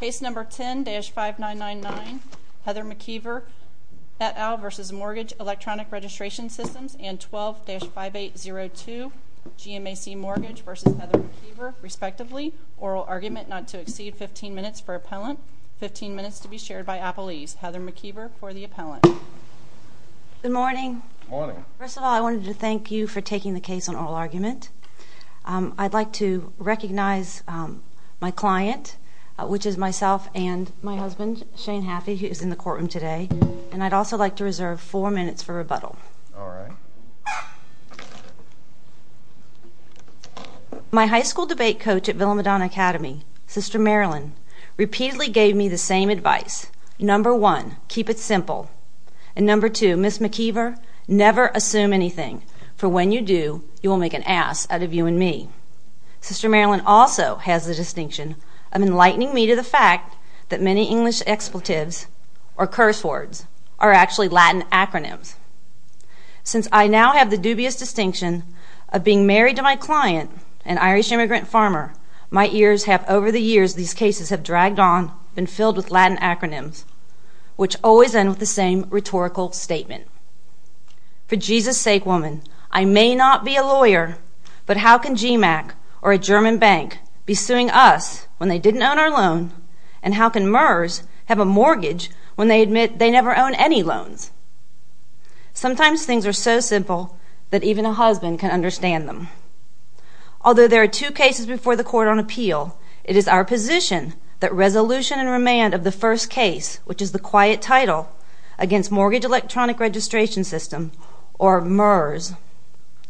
Case number 10-5999 Heather McKeever et al. v. Mortgage Electronic Registration Systems and 12-5802 GMAC Mortgage v. Heather McKeever respectively. Oral argument not to exceed 15 minutes for appellant, 15 minutes to be shared by appellees. Heather McKeever for the appellant. Good morning. First of all I wanted to thank you for taking the case on oral argument. I'd like to recognize my client, which is myself and my husband Shane Haffey, who is in the courtroom today. And I'd also like to reserve four minutes for rebuttal. My high school debate coach at Villamadon Academy, Sister Marilyn, repeatedly gave me the same advice. Number one, keep it simple. And number two, Ms. McKeever, never assume anything. For when you do, you will make an ass out of you and me. Sister Marilyn also has the distinction of enlightening me to the fact that many English expletives, or curse words, are actually Latin acronyms. Since I now have the dubious distinction of being married to my client, an Irish immigrant farmer, my ears have over the years, these cases have dragged on, been filled with Latin acronyms, which always end with the same answer. But how can GMAC or a German bank be suing us when they didn't own our loan? And how can MERS have a mortgage when they admit they never own any loans? Sometimes things are so simple that even a husband can understand them. Although there are two cases before the court on appeal, it is our position that resolution and remand of the first case, which is the quiet title against Mortgage Electronic Registration System, or MERS,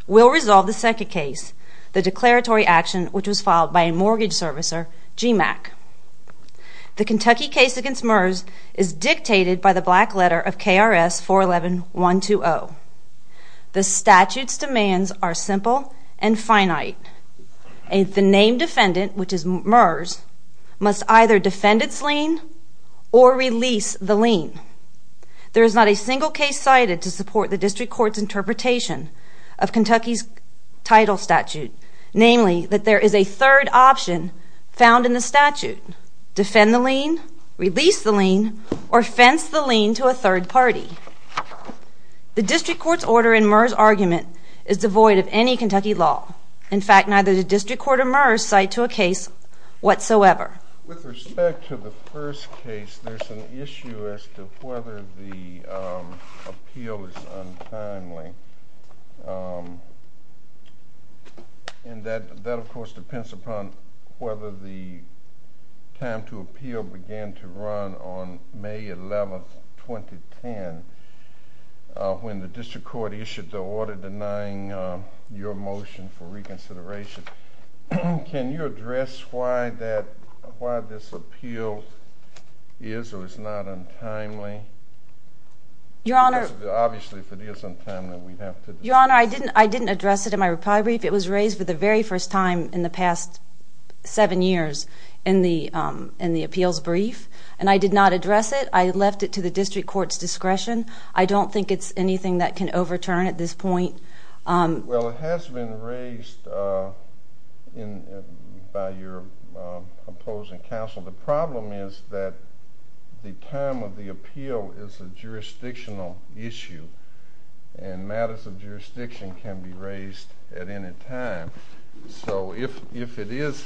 will resolve the second case, the declaratory action which was filed by a mortgage servicer, GMAC. The Kentucky case against MERS is dictated by the black letter of KRS 411120. The statute's demands are simple and finite. The named defendant, which is MERS, must either defend its lien or release the lien. There is not a single case cited to support the district court's interpretation of Kentucky's title statute, namely that there is a third option found in the statute. Defend the lien, release the lien, or fence the lien to a third party. The district court's order in MERS' argument is devoid of any Kentucky law. In fact, neither the district court's order in MERS' argument is devoid of any Kentucky law whatsoever. With respect to the first case, there's an issue as to whether the appeal is untimely. That, of course, depends upon whether the time to appeal began to run on May 11th, 2010, when the district court issued the order denying your motion for reconsideration. Can you address why this appeal is or is not untimely? Your Honor, I didn't address it in my reply brief. It was raised for the very first time in the past seven years in the appeals brief, and I did not address it. I left it to the district court's discretion. I don't think it's anything that can overturn at this point. Well, it has been raised by your opposing counsel. The problem is that the time of the appeal is a jurisdictional issue, and matters of jurisdiction can be raised at any time. So if it is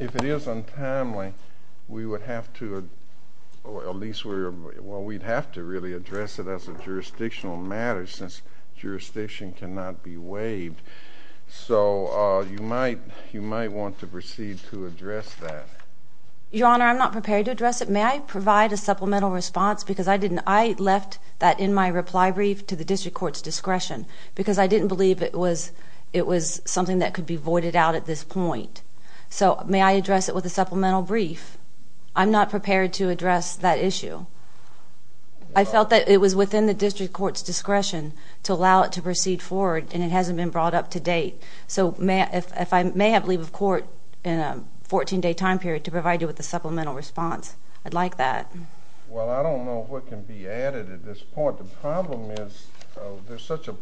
untimely, we would have to, or at least we would have to really address it as a jurisdictional matter, since jurisdiction cannot be waived. So you might want to proceed to address that. Your Honor, I'm not prepared to address it. May I provide a supplemental response? Because I didn't. I left that in my reply brief to the district court's discretion, because I didn't believe it was something that could be voided out at this point. So may I address it with a supplemental brief? I'm not prepared to address it. I felt that it was within the district court's discretion to allow it to proceed forward, and it hasn't been brought up to date. So if I may have leave of court in a 14-day time period to provide you with a supplemental response, I'd like that. Well, I don't know what can be added at this point. The problem is there's such a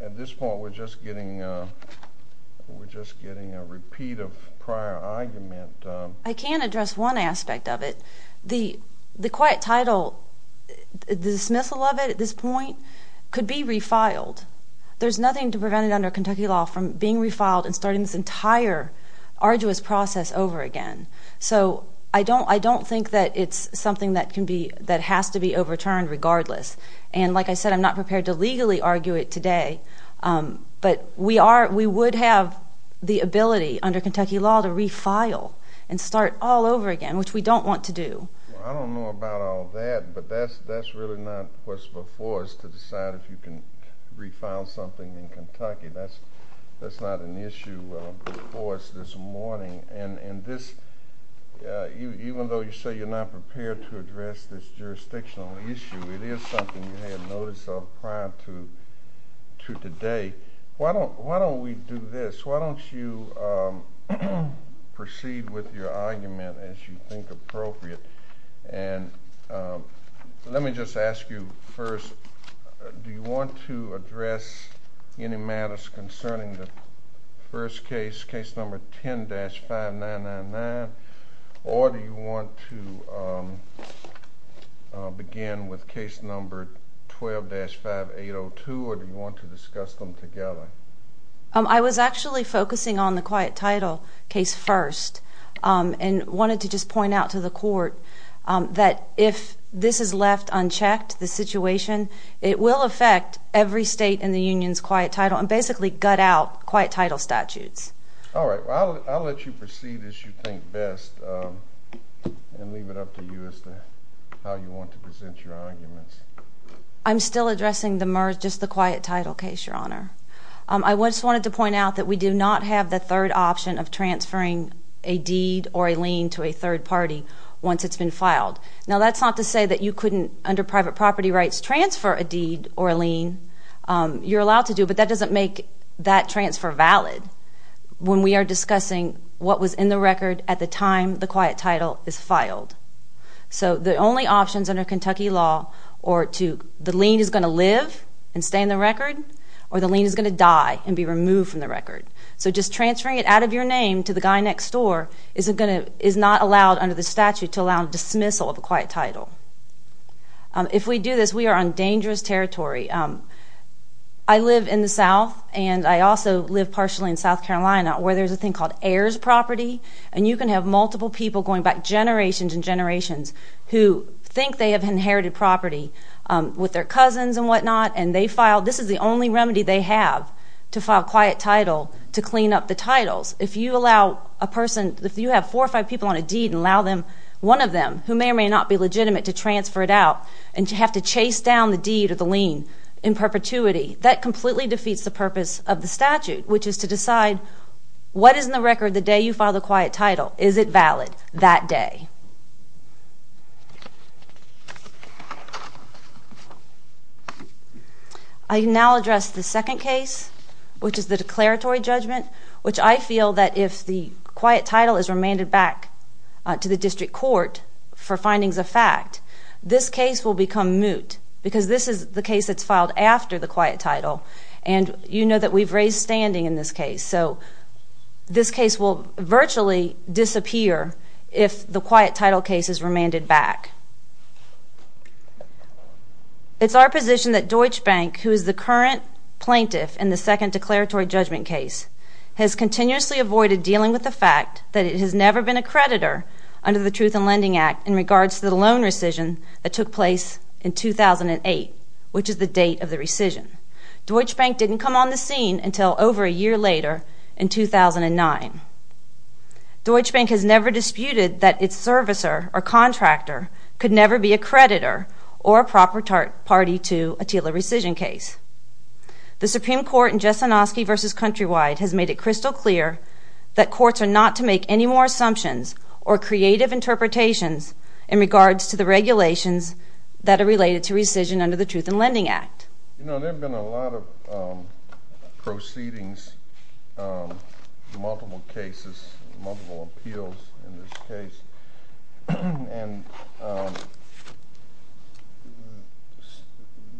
At this point, we're just getting a repeat of prior argument. I can address one aspect of it. The quiet title, the dismissal of it at this point, could be refiled. There's nothing to prevent it under Kentucky law from being refiled and starting this entire arduous process over again. So I don't think that it's something that has to be overturned regardless. And like I said, I'm not prepared to legally argue it today, but we would have the ability under Kentucky law to refile and start all over again, which we don't want to do. I don't know about all that, but that's really not what's before us to decide if you can refile something in Kentucky. That's not an issue before us this morning. And even though you say you're not prepared to address this prior to today, why don't we do this? Why don't you proceed with your argument as you think appropriate? And let me just ask you first, do you want to address any matters concerning the first case, case number 10-5999, or do you want to begin with case number 12-5802, or do you want to discuss them together? I was actually focusing on the quiet title case first and wanted to just point out to the court that if this is left unchecked, the situation, it will affect every state in the Union's quiet title and basically gut out quiet title statutes. All right, well I'll let you proceed as you think best and leave it up to you as to how you want to present your arguments. I'm still addressing the merge, just the quiet title case, Your Honor. I just wanted to point out that we do not have the third option of transferring a deed or a lien to a third party once it's been filed. Now that's not to say that you couldn't, under private property rights, transfer a deed or a lien. You're allowed to do, but that doesn't make that transfer valid when we are discussing what was in the record at the time the quiet title is filed. So the only options under Kentucky law are to, the lien is going to live and stay in the record, or the lien is going to die and be removed from the record. So just transferring it out of your name to the guy next door is not allowed under the statute to allow a dismissal of a quiet territory. I live in the South and I also live partially in South Carolina where there's a thing called heirs property and you can have multiple people going back generations and generations who think they have inherited property with their cousins and whatnot and they filed, this is the only remedy they have to file quiet title to clean up the titles. If you allow a person, if you have four or five people on a deed and allow them, one of them, who may or may not be legitimate to transfer it out and you have to chase down the deed or the lien in perpetuity, that completely defeats the purpose of the statute, which is to decide what is in the record the day you file the quiet title. Is it valid that day? I now address the second case, which is the declaratory judgment, which I feel that if the quiet title is remanded back to the district court for findings of because this is the case that's filed after the quiet title and you know that we've raised standing in this case. So this case will virtually disappear if the quiet title case is remanded back. It's our position that Deutsche Bank, who is the current plaintiff in the second declaratory judgment case, has continuously avoided dealing with the fact that it has never been a creditor under the Truth in Lending Act in took place in 2008, which is the date of the rescission. Deutsche Bank didn't come on the scene until over a year later, in 2009. Deutsche Bank has never disputed that its servicer or contractor could never be a creditor or a proper party to a TILA rescission case. The Supreme Court in Jessenoski v. Countrywide has made it crystal clear that courts are not to make any more assumptions or creative interpretations in regards to the regulations that are related to rescission under the Truth in Lending Act. You know, there have been a lot of proceedings, multiple cases, multiple appeals in this case, and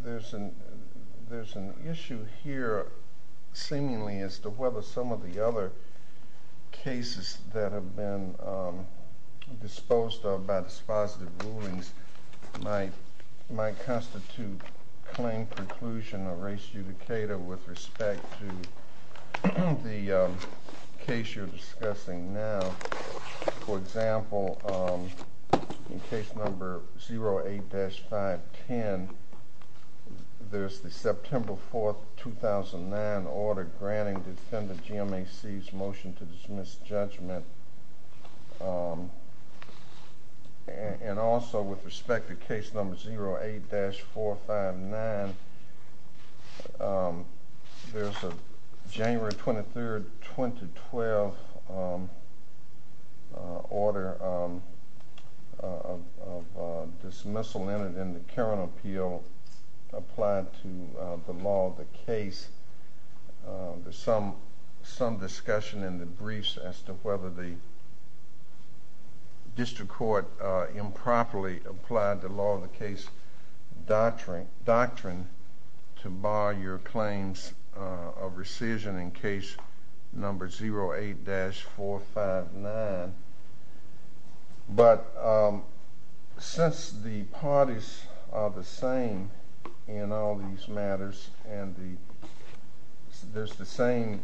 there's an issue here, seemingly, as to whether some of the other cases that have been disposed of by dispositive rulings might constitute claim, conclusion, or res judicata with respect to the case you're discussing now. For example, in case number 08-510, there's the September 4th, 2009 order granting defendant GMAC's motion to dismiss judgment. And also, with respect to case number 08-459, there's a January 23rd, 2012 order of dismissal entered in the discussion in the briefs as to whether the district court improperly applied the law of the case doctrine to bar your claims of rescission in case number 08-459. But since the parties are the same in all these matters, and there's the same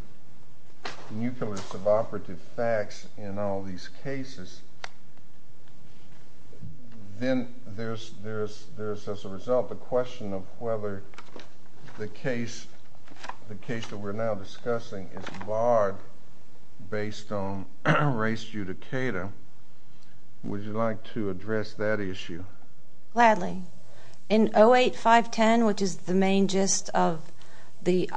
nucleus of operative facts in all these cases, then there's, as a result, the question of whether the case that we're now discussing is barred based on res judicata. Would you like to address that issue? Gladly. In 08-510, which is the main gist of the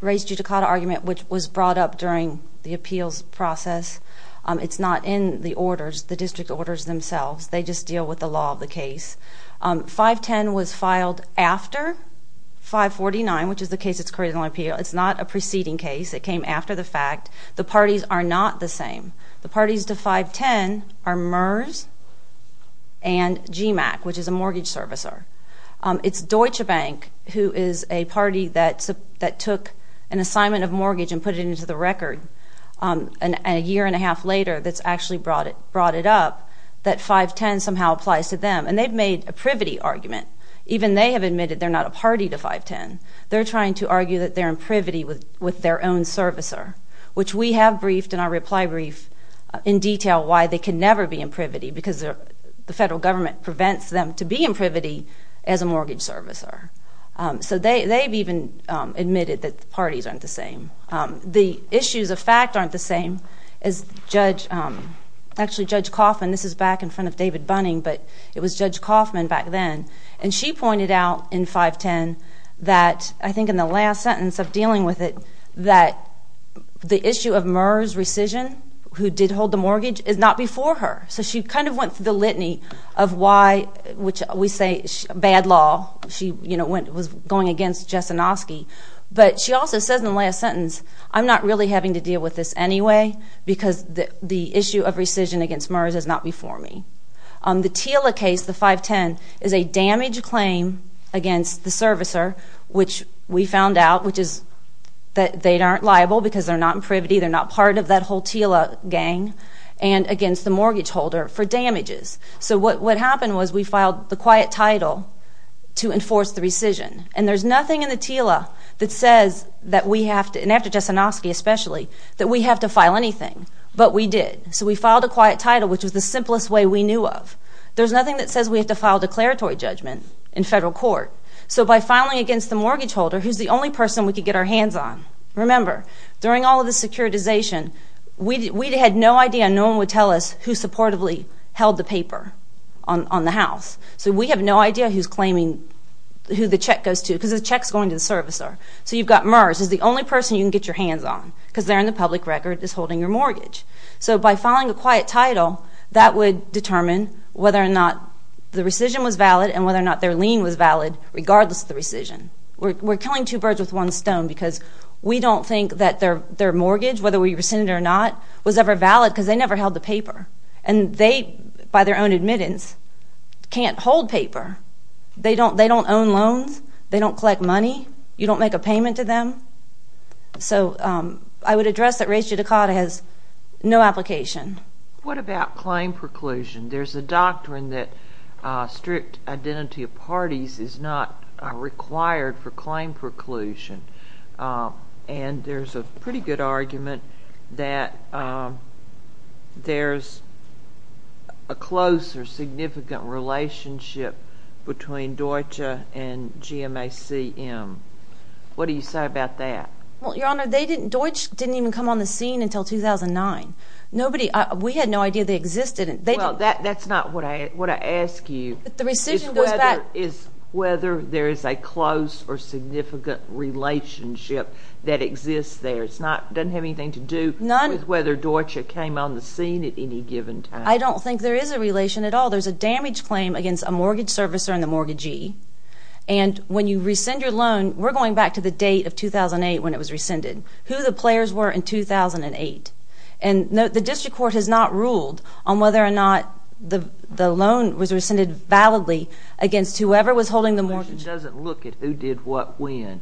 res judicata argument, which was brought up during the appeals process, it's not in the orders, the district orders themselves. They just deal with the law of the case. 510 was filed after 549, which is the case that's created on appeal. It's not a preceding case. It came after the fact. The parties are not the same. The parties to 510 are MERS and GMAC, which is a mortgage servicer. It's Deutsche Bank, who is a party that took an assignment of mortgage and put it into the record, and a year and a half later that's actually brought it up, that 510 somehow applies to them. And they've made a privity argument. Even they have admitted they're not a party to 510. They're trying to argue that they're in privity with their own servicer, which we have briefed in our reply brief in detail why they can never be in privity, because the federal government prevents them to be in privity as a mortgage servicer. So they've even admitted that the parties aren't the same. The issues of fact aren't the same. Actually, Judge Kaufman, this is back in front of David Bunning, but it was Judge Kaufman back then, and she pointed out in 510 that, I think in the last sentence of dealing with it, that the issue of MERS rescission, who did hold the mortgage, is not before her. So she kind of went through the litany of why, which we say bad law. She, you know, was going against Jessenoski. But she also says in the last sentence, I'm not really having to deal with this anyway, because the issue of rescission against MERS is not before me. The TILA case, the 510, is a damage claim against the servicer, which we found out, which is that they aren't liable because they're not in privity, they're not part of that whole TILA gang, and against the mortgage holder for damages. So what happened was we filed the quiet title to enforce the rescission. And there's nothing in the TILA that says that we have to, and after Jessenoski especially, that we have to file anything. But we did. So we filed a quiet title, which was the simplest way we knew of. There's nothing that says we have to file declaratory judgment in federal court. So by filing against the mortgage holder, who's the only person we could get our hands on? Remember, during all of the securitization, we had no idea, no one would tell us, who supportively held the paper on the house. So we have no idea who's claiming, who the check goes to, because the check's going to the servicer. So you've got MERS as the only person you can get your hands on, because they're in the public record, is holding your mortgage. So by filing a quiet title, that would determine whether or not the rescission was valid and whether or not their lien was valid, regardless of the rescission. We're killing two birds with one stone, because we don't think that their mortgage, whether we rescind it or not, was ever valid, because they never held the paper. And they, by their own admittance, can't hold paper. They don't own loans. They don't collect money. You don't make a payment to them. So I would address that ratio to CAUDA has no application. What about claim preclusion? There's a doctrine that strict identity of parties is not required for claim preclusion. And there's a pretty good argument that there's a close or significant relationship between Deutsche and GMACM. What do you say about that? Well, Your Honor, they didn't, Deutsche didn't even come on the scene until 2009. Nobody, we had no idea they existed. Well, that's not what I ask you. The rescission goes back... Is whether there is a close or significant relationship that exists there. It's not, doesn't have anything to do with whether Deutsche came on the scene at any given time. I don't think there is a relation at all. There's a damage claim against a mortgage servicer and the mortgagee. And when you rescind your loan, we're going back to the date of 2008 when it was rescinded, who the players were in 2008. And the district court has not ruled on whether or not the the loan was rescinded validly against whoever was holding the mortgage. It doesn't look at who did what when.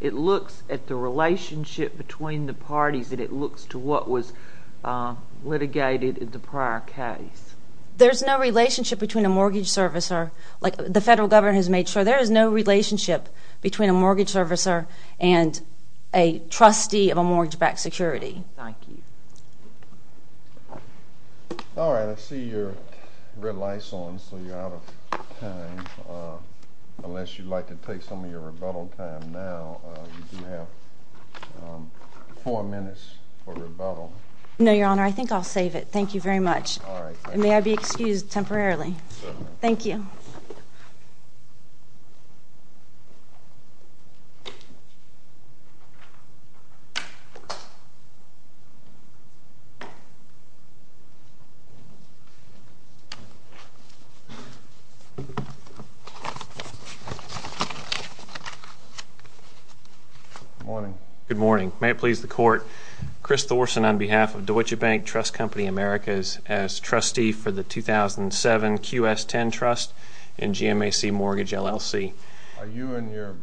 It looks at the relationship between the parties and it looks to what was litigated in the prior case. There's no relationship between a mortgage servicer, like the federal government has made sure, there is no relationship between a mortgage servicer and a trustee of a mortgage-backed security. Thank you. Alright, I see your red light's on, so you're out of time. Unless you'd like to take some of your rebuttal time now, you do have four minutes for rebuttal. No, your honor, I think I'll save it. Thank you very much. May I be excused temporarily? Thank you. Good morning. Good morning. May it please the court, Chris Thorson on behalf of Deutsche Bank Trust Company Americas as trustee for the 2007 QS10 trust in GMAC Mortgage LLC. Are you and your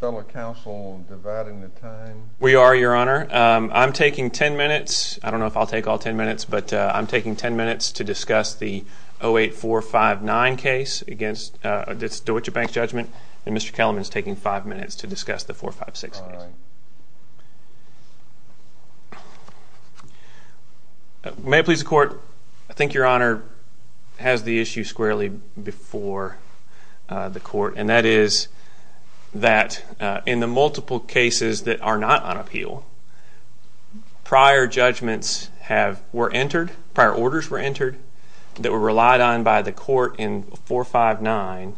fellow counsel dividing the time? We are, your honor. I'm taking 10 minutes. I don't know if I'll take all 10 minutes, but I'm taking 10 minutes to discuss the 08459 case against this Deutsche Bank judgment and Mr. Kellerman is taking five minutes to discuss the 456. May it please the court, I think your honor has the issue squarely before the court and that is that in the multiple cases that are not on appeal, prior judgments were entered, prior orders were entered that were relied on by the court in 459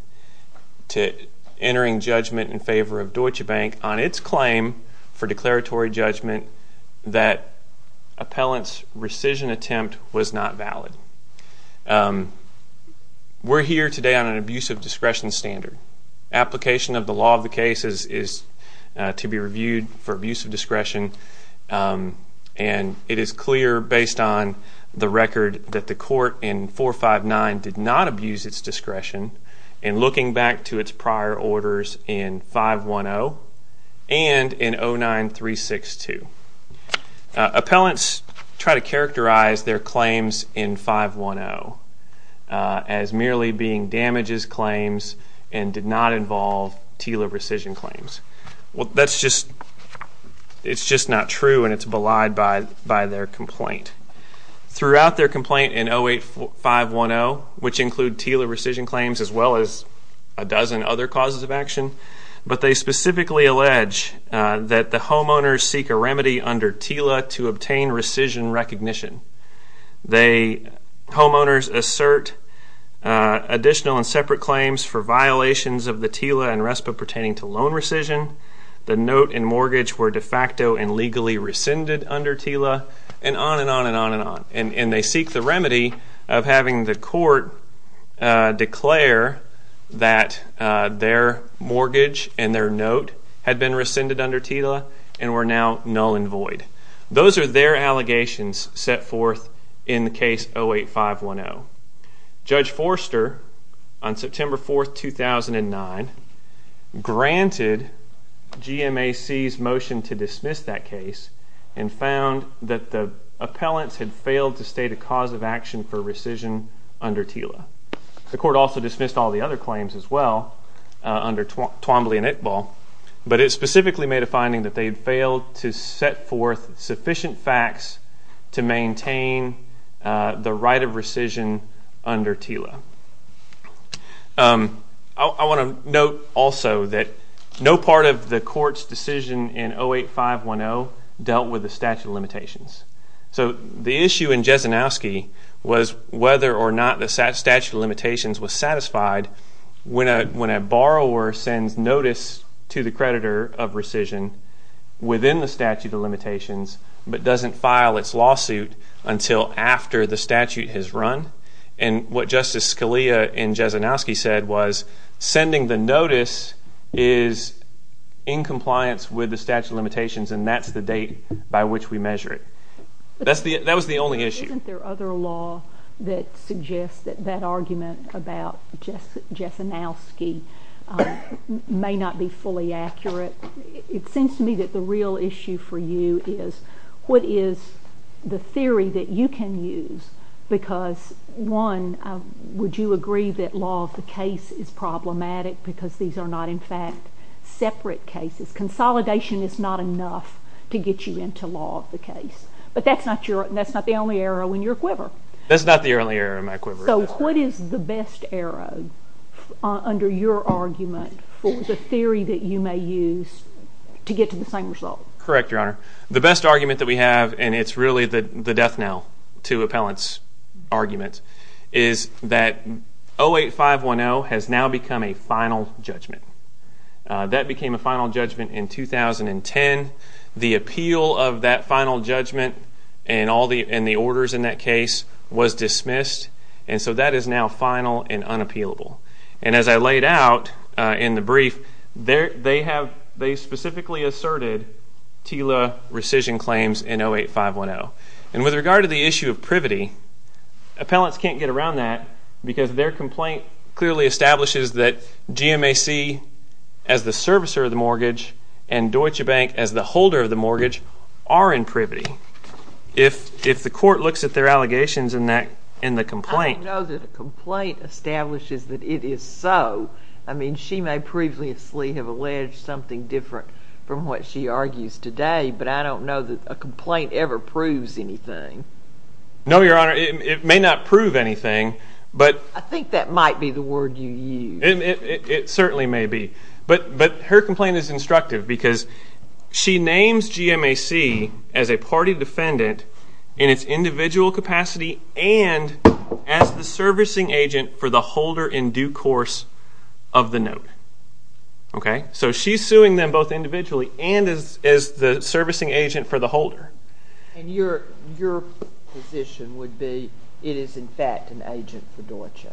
to entering judgment in favor of Deutsche Bank on its claim for declaratory judgment that appellant's rescission attempt was not valid. We're here today on an abuse of discretion standard. Application of the law of the cases is to be reviewed for abuse of discretion and it is clear based on the record that the court in 459 did not abuse its discretion and looking back to its prior orders in 510 and in 09362. Appellants try to characterize their claims in 510 as merely being damages claims and did not involve TILA rescission claims. Well that's just, it's just not true and it's belied by their complaint. Throughout their complaint in 08510, which a dozen other causes of action, but they specifically allege that the homeowners seek a remedy under TILA to obtain rescission recognition. They, homeowners assert additional and separate claims for violations of the TILA and RESPA pertaining to loan rescission. The note and mortgage were de facto and legally rescinded under TILA and on and on and on and on and they seek the remedy of having the court declare that their mortgage and their note had been rescinded under TILA and were now null and void. Those are their allegations set forth in the case 08510. Judge Forster on September 4, 2009 granted GMAC's motion to dismiss that case and found that the appellants had failed to state a cause of action for rescission under TILA. The court also dismissed all the other claims as well under Twombly and Iqbal, but it specifically made a finding that they'd failed to set forth sufficient facts to maintain the right of rescission under TILA. I want to note also that no part of the court's decision in 08510 dealt with the statute of limitations. So the issue in Jesenowski was whether or not the statute of limitations was satisfied when a when a borrower sends notice to the creditor of rescission within the statute of limitations but doesn't file its lawsuit until after the statute has run and what Justice Scalia in Jesenowski said was sending the notice is in compliance with the statute of limitations and that's the date by which we measure it. That was the only issue. Isn't there other law that suggests that that argument about Jesenowski may not be fully accurate? It seems to me that the real issue for you is what is the theory that you can use because, one, would you agree that law of the case is problematic because these are not in fact separate cases? Consolidation is not enough to get you into law of the case but that's not your that's not the only arrow in your quiver. That's not the only arrow in my quiver. So what is the best arrow under your argument for the theory that you may use to get to the same result? Correct, Your Honor. The best argument that we have and it's really the the death knell to appellants argument is that 08510 has now become a final judgment. That became a final judgment in 2010. The appeal of that final judgment and all the and the orders in that case was dismissed and so that is now final and unappealable and as I laid out in the brief there they have they specifically asserted TILA rescission claims in 08510 and with regard to the issue of privity, appellants can't get around that because their complaint clearly establishes that GMAC as the servicer of the mortgage and Deutsche Bank as the holder of the mortgage are in privity. If if the court looks at their allegations in that in the complaint. I don't know that a complaint establishes that it is so. I mean she may previously have alleged something different from what she argues today but I don't know that a complaint ever proves anything. No, Your Honor, it may not prove anything but I think that might be the word you use. It certainly may be but but her complaint is instructive because she names GMAC as a party defendant in its individual capacity and as the servicing agent for the holder in due course of the note. Okay, so she's suing them both individually and as the servicing agent for the holder. And your your position would be it is in fact an agent for Deutsche.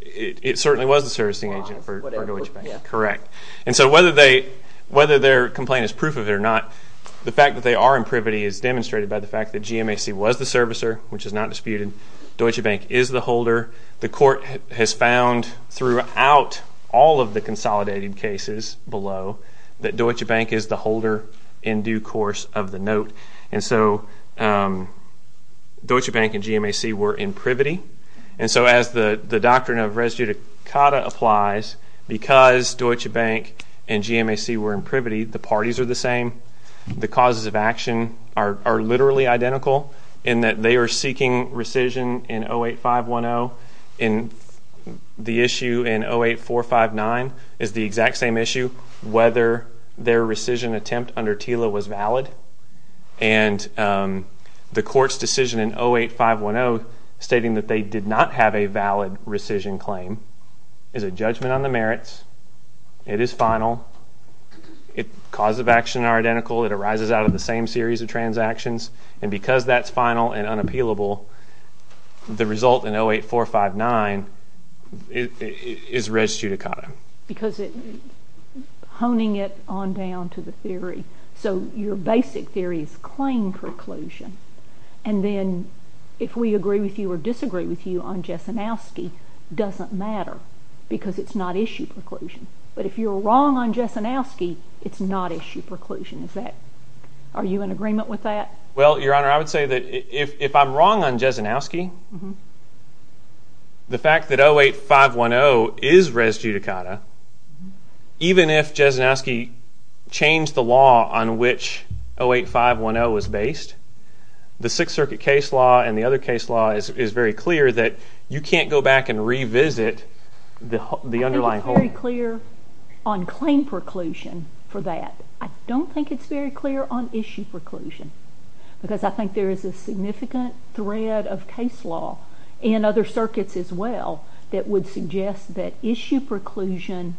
It certainly was a servicing agent for Deutsche Bank. Correct. And so whether they whether their complaint is proof of it or not the fact that they are in privity is demonstrated by the fact that GMAC was the servicer which is not disputed. Deutsche Bank is the holder. The court has found throughout all of the consolidated cases below that Deutsche Bank is the holder in due course of the note. And so Deutsche Bank and GMAC were in privity and so as the the doctrine of res judicata applies because Deutsche Bank and GMAC were in privity the parties are the same. The causes of action are literally identical in that they are seeking rescission in 08510 and the issue in 08459 is the exact same issue whether their rescission attempt under TILA was valid and the court's decision in 08510 stating that they did not have a valid rescission claim is a judgment on the merits. It is final. The causes of action are identical. It arises out of the same series of transactions and because that's final and unappealable the result in 08459 is res judicata. Because it honing it on down to the theory so your basic theory is claim preclusion and then if we agree with you or disagree with you on Jesenowski doesn't matter because it's not issue preclusion but if you're wrong on Jesenowski it's not issue preclusion. Is that are you in agreement with that? Well your honor I would say that if I'm wrong on Jesenowski the fact that 08510 is res judicata even if Jesenowski changed the law on which 08510 was based the Sixth Circuit case law and the other case law is very clear that you can't go back and revisit the underlying. I think it's very clear on claim preclusion for that. I don't think it's very clear on issue preclusion because I think there is a significant thread of case law in other circuits as well that would suggest that the issue preclusion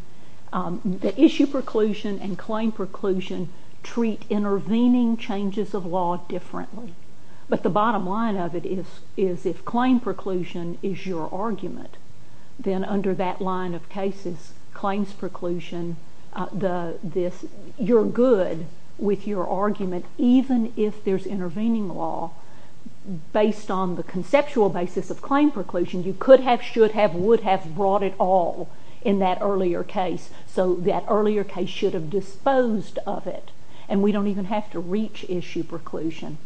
and claim preclusion treat intervening changes of law differently. But the bottom line of it is is if claim preclusion is your argument then under that line of cases claims preclusion the this you're good with your argument even if there's intervening law based on the conceptual basis of claim preclusion you could have should have would have brought it all in that earlier case so that earlier case should have disposed of it and we don't even have to reach issue preclusion.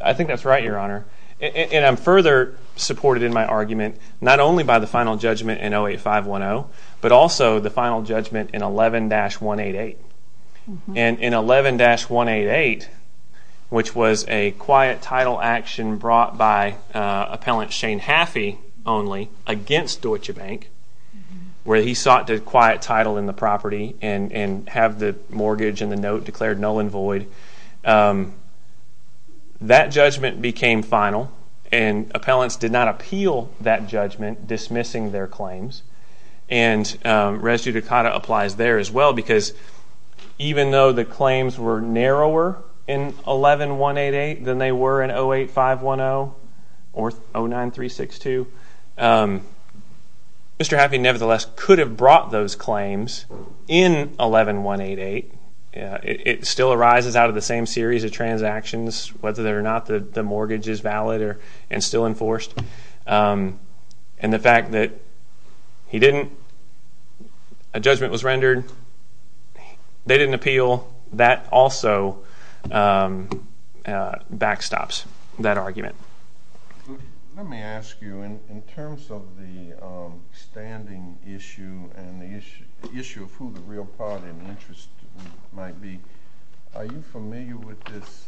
I think that's right your honor and I'm further supported in my argument not only by the final judgment in 08510 but also the final judgment in 11-188 and in 11-188 which was a quiet where he sought a quiet title in the property and and have the mortgage in the note declared null and void. That judgment became final and appellants did not appeal that judgment dismissing their claims and res judicata applies there as well because even though the claims were narrower in 11-188 than they were in 08510 or 09-362 Mr. Happy nevertheless could have brought those claims in 11-188 it still arises out of the same series of transactions whether they're not that the mortgage is valid or and still enforced and the fact that he didn't a judgment was rendered they didn't appeal that also backstops that argument. Let me ask you in terms of the standing issue and the issue of who the real party and interest might be are you familiar with this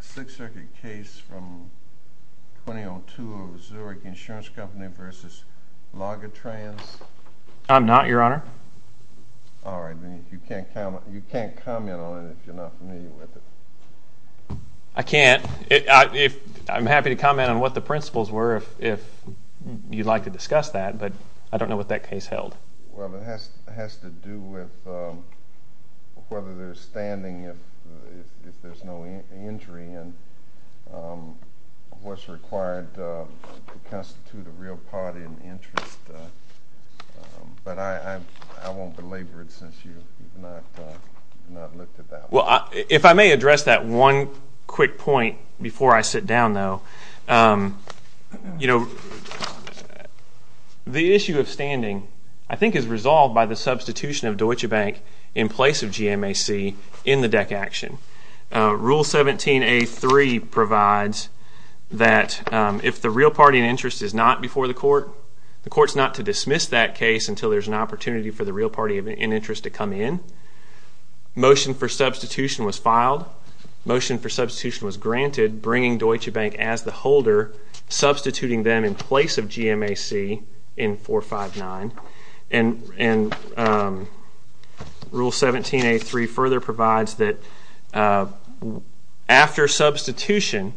Sixth Circuit case from 2002 of the Zurich Insurance Company versus Lagatrans? I'm not your honor. Alright you can't comment on it if you're not familiar with it. I can't I'm happy to comment on what the principles were if you'd like to discuss that but I don't know what that case was required to constitute a real party and interest but I won't belabor it since you've not looked at that. Well if I may address that one quick point before I sit down though you know the issue of standing I think is resolved by the substitution of Deutsche Bank in place of GMAC in 459 and rule 17a3 provides that if the real party and interest is not before the court the court's not to dismiss that case until there's an opportunity for the real party and interest to come in. Motion for substitution was filed. Motion for substitution was granted bringing Deutsche Bank as the holder substituting them in place of GMAC in 459 and rule 17a3 further provides that after substitution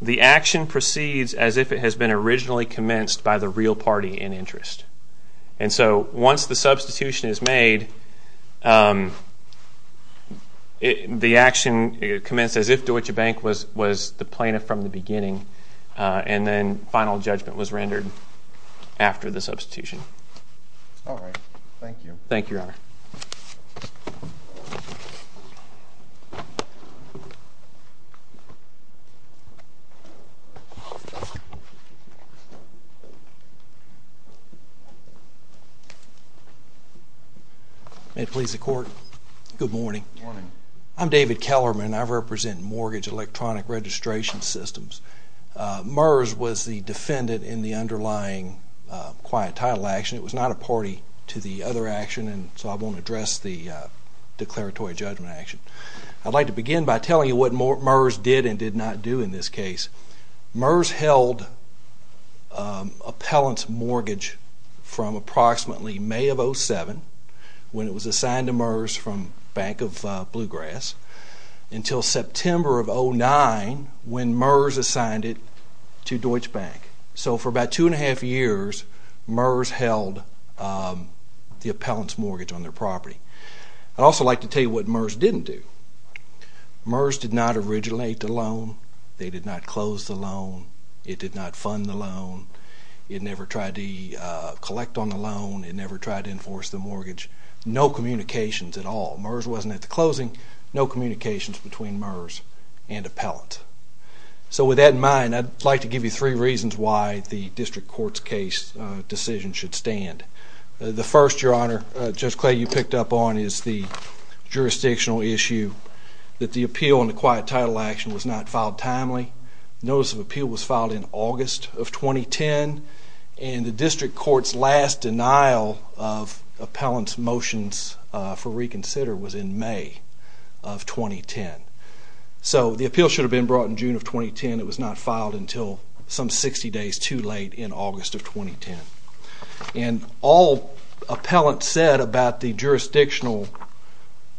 the action proceeds as if it has been originally commenced by the real party in interest and so once the substitution is made the action commenced as if Deutsche Bank was the plaintiff from the beginning and then final judgment was rendered after the substitution. All right. Thank you. Thank you, Your Honor. May it please the court. Good morning. I'm David Kellerman. I represent mortgage electronic registration systems. MERS was the defendant in the underlying quiet title action. It was not a party to the other action and so I won't address the declaratory judgment action. I'd like to begin by telling you what MERS did and did not do in this case. MERS held appellant's mortgage from approximately May of 07 when it was assigned to MERS from Bank of Bluegrass until September of 09 when MERS assigned it to Deutsche Bank. So for about two and a half years MERS held the appellant's mortgage on their property. I'd also like to tell you what MERS didn't do. MERS did not originate the loan. They did not close the loan. It did not fund the loan. It never tried to collect on the loan. It never tried to enforce the mortgage. No communications at all. MERS wasn't at the closing. No and appellant. So with that in mind I'd like to give you three reasons why the district court's case decision should stand. The first your honor, Judge Clay you picked up on is the jurisdictional issue that the appeal on the quiet title action was not filed timely. Notice of appeal was filed in August of 2010 and the district court's last denial of appellant's motions for reconsider was in May of 2010. So the appeal should have been brought in June of 2010. It was not filed until some 60 days too late in August of 2010 and all appellant said about the jurisdictional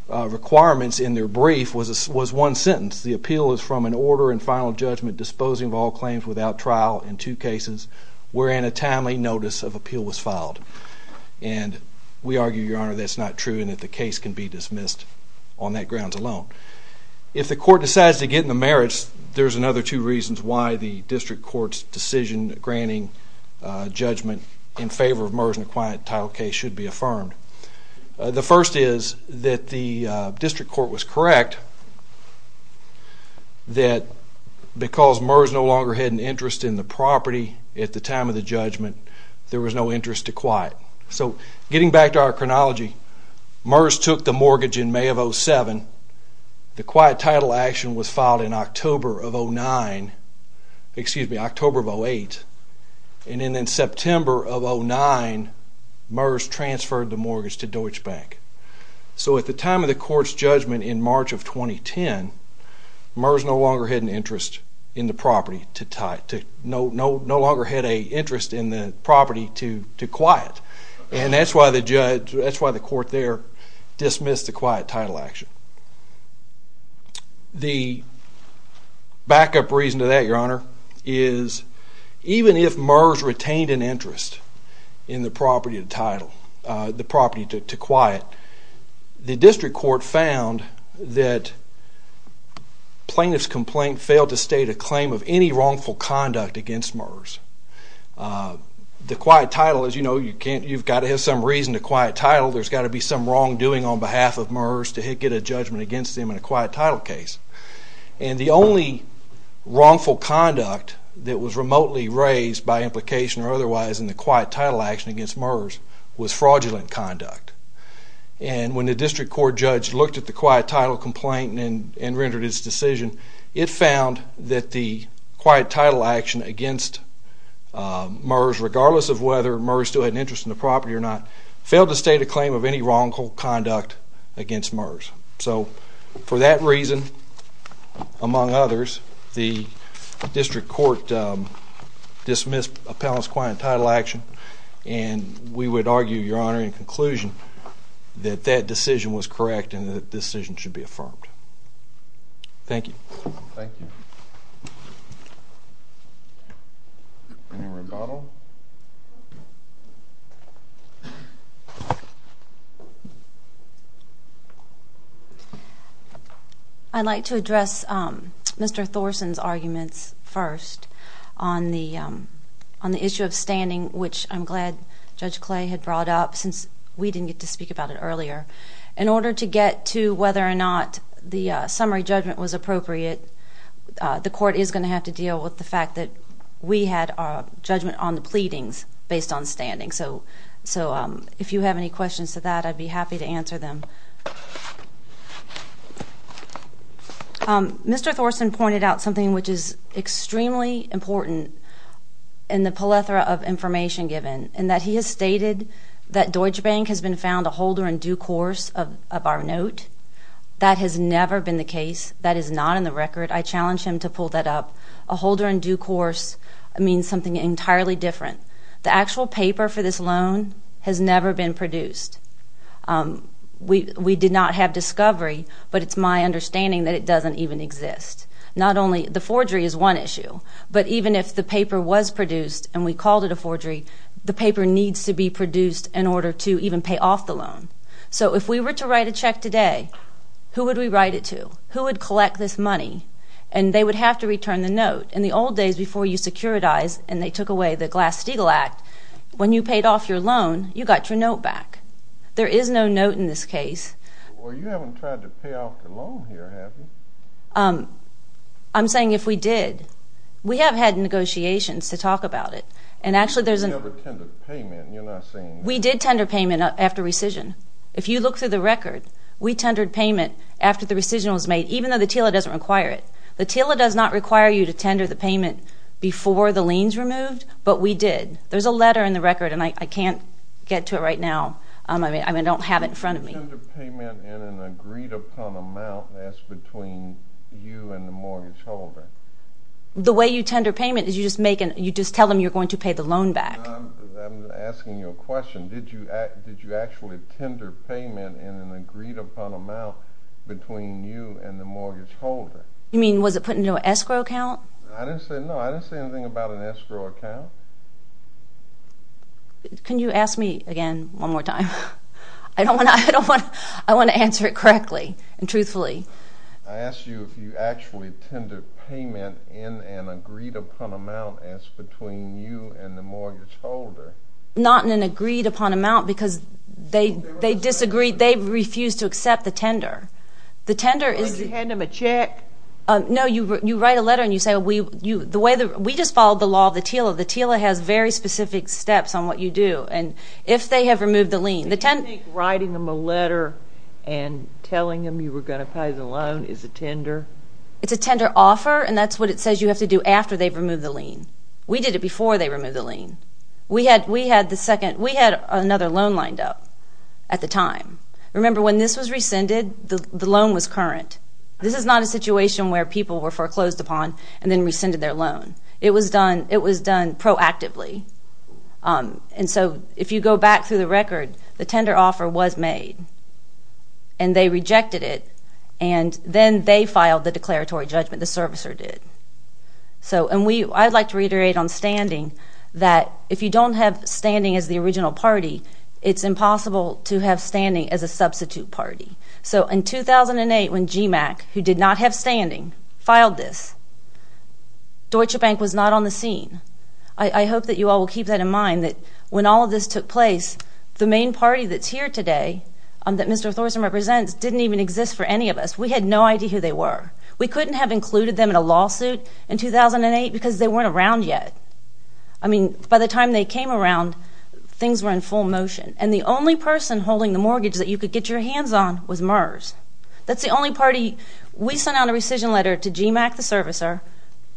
requirements in their brief was one sentence. The appeal is from an order and final judgment disposing of all claims without trial in two cases wherein a timely notice of appeal was filed and we on that grounds alone. If the court decides to get in the merits, there's another two reasons why the district court's decision granting judgment in favor of MERS in a quiet title case should be affirmed. The first is that the district court was correct that because MERS no longer had an interest in the property at the time of the judgment, there was no interest to quiet. So getting back to our May of 07, the quiet title action was filed in October of 09, excuse me, October of 08. And then in September of 09, MERS transferred the mortgage to Deutsche Bank. So at the time of the court's judgment in March of 2010, MERS no longer had an interest in the property to tie to no, no, no longer had a interest in the property to quiet. And that's why the judge, that's why the court there dismissed the quiet title action. The backup reason to that, your honor, is even if MERS retained an interest in the property title, the property to quiet, the district court found that plaintiff's complaint failed to state a claim of any wrongful conduct against MERS. The quiet title, as you know, you can't, you've got to have some reason to be some wrongdoing on behalf of MERS to get a judgment against them in a quiet title case. And the only wrongful conduct that was remotely raised by implication or otherwise in the quiet title action against MERS was fraudulent conduct. And when the district court judge looked at the quiet title complaint and rendered his decision, it found that the quiet title action against MERS, regardless of whether MERS still had an interest in the property or not, failed to state a claim of any wrongful conduct against MERS. So for that reason, among others, the district court dismissed appellant's quiet title action. And we would argue, your honor, in conclusion that that decision was correct and that the decision should be affirmed. Thank you. Thank you. Any rebuttal? I'd like to address Mr. Thorsen's arguments first on the on the issue of standing, which I'm glad Judge Clay had brought up since we didn't get to speak about it earlier. In order to get to whether or not the summary judgment was appropriate, the court is going to have to deal with the fact that we had our Mr. Thorsen pointed out something which is extremely important in the plethora of information given, and that he has stated that Deutsche Bank has been found a holder in due course of our note. That has never been the case. That is not in the record. I challenge him to pull that up. A holder in due course means something entirely different. The actual paper for this loan has never been produced. We did not have discovery, but it's my understanding that it doesn't even exist. Not only the forgery is one issue, but even if the paper was produced and we called it a forgery, the paper needs to be produced in order to even pay off the loan. So if we were to write a check today, who would we write it to? Who would collect this money? And they would have to return the note. In the old days before you securitized and they took away the Glass-Steagall Act, when you paid off your loan, you got your note back. There is no note in this case. Well, you haven't tried to pay off your loan here, have you? I'm saying if we did. We have had negotiations to talk about it, and actually there's... You never tendered payment. You're not saying that. We did tender payment after rescission. If you look through the record, we tendered payment after the rescission was made, even though the TILA doesn't require it. The TILA does not require you to tender the payment before the lien's removed, but we did. There's a I can't get to it right now. I mean, I don't have it in front of me. You tender payment in an agreed-upon amount that's between you and the mortgage holder. The way you tender payment is you just tell them you're going to pay the loan back. I'm asking you a question. Did you actually tender payment in an agreed-upon amount between you and the mortgage holder? You mean, was it put into an escrow account? I didn't say no. I didn't say anything about an escrow account. Can you ask me again one more time? I don't want to... I don't want to... I want to answer it correctly and truthfully. I asked you if you actually tendered payment in an agreed-upon amount as between you and the mortgage holder. Not in an agreed-upon amount because they disagreed. They refused to accept the tender. The tender is... Did you hand them a check? No, you write a letter and you say we... you... the way the... we just followed the law of the TILA. The TILA has very specific steps on what you do and if they have removed the lien... Do you think writing them a letter and telling them you were going to pay the loan is a tender? It's a tender offer and that's what it says you have to do after they've removed the lien. We did it before they removed the lien. We had... we had the second... we had another loan lined up at the time. Remember when this was rescinded, the loan was current. This is not a It was done... it was done proactively and so if you go back through the record, the tender offer was made and they rejected it and then they filed the declaratory judgment, the servicer did. So... and we... I'd like to reiterate on standing that if you don't have standing as the original party, it's impossible to have standing as a substitute party. So in 2008 when GMAC, who did not have standing, filed this, Deutsche Bank was not on the scene. I hope that you all will keep that in mind that when all of this took place, the main party that's here today, that Mr. Thorsen represents, didn't even exist for any of us. We had no idea who they were. We couldn't have included them in a lawsuit in 2008 because they weren't around yet. I mean by the time they came around, things were in full motion and the only person holding the mortgage that you could get your hands on was the only party... we sent out a rescission letter to GMAC, the servicer,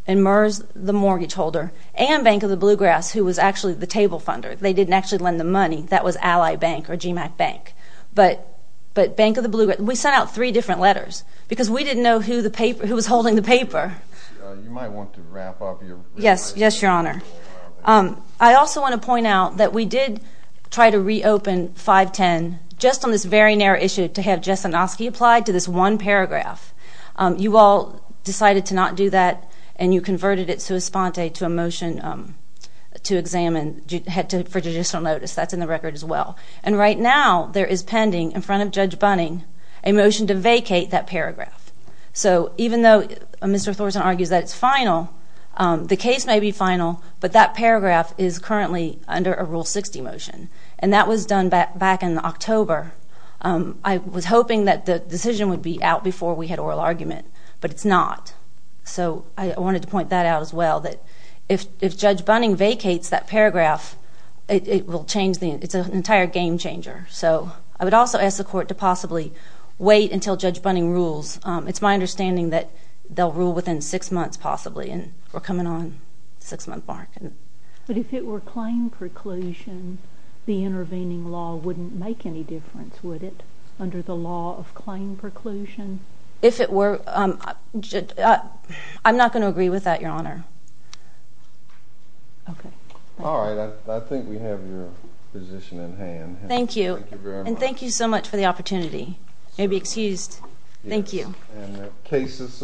and MERS, the mortgage holder, and Bank of the Bluegrass, who was actually the table funder. They didn't actually lend the money. That was Ally Bank or GMAC Bank. But... but Bank of the Bluegrass... we sent out three different letters because we didn't know who the paper... who was holding the paper. Yes, yes your honor. I also want to point out that we did try to reopen 510 just on this very narrow issue to have Jess Anosky applied to this one paragraph. You all decided to not do that and you converted it sua sponte to a motion to examine... had to... for judicial notice. That's in the record as well. And right now there is pending in front of Judge Bunning a motion to vacate that paragraph. So even though Mr. Thorsen argues that it's final, the case may be final, but that paragraph is I was hoping that the decision would be out before we had oral argument, but it's not. So I wanted to point that out as well, that if if Judge Bunning vacates that paragraph, it will change the... it's an entire game changer. So I would also ask the court to possibly wait until Judge Bunning rules. It's my understanding that they'll rule within six months possibly and we're coming on six month mark. But if it were claim preclusion, the intervening law wouldn't make any difference, would it, under the law of claim preclusion? If it were... I'm not going to agree with that, Your Honor. Okay. All right. I think we have your position in hand. Thank you and thank you so much for the opportunity. You may be excused. Thank you. And the case is submitted.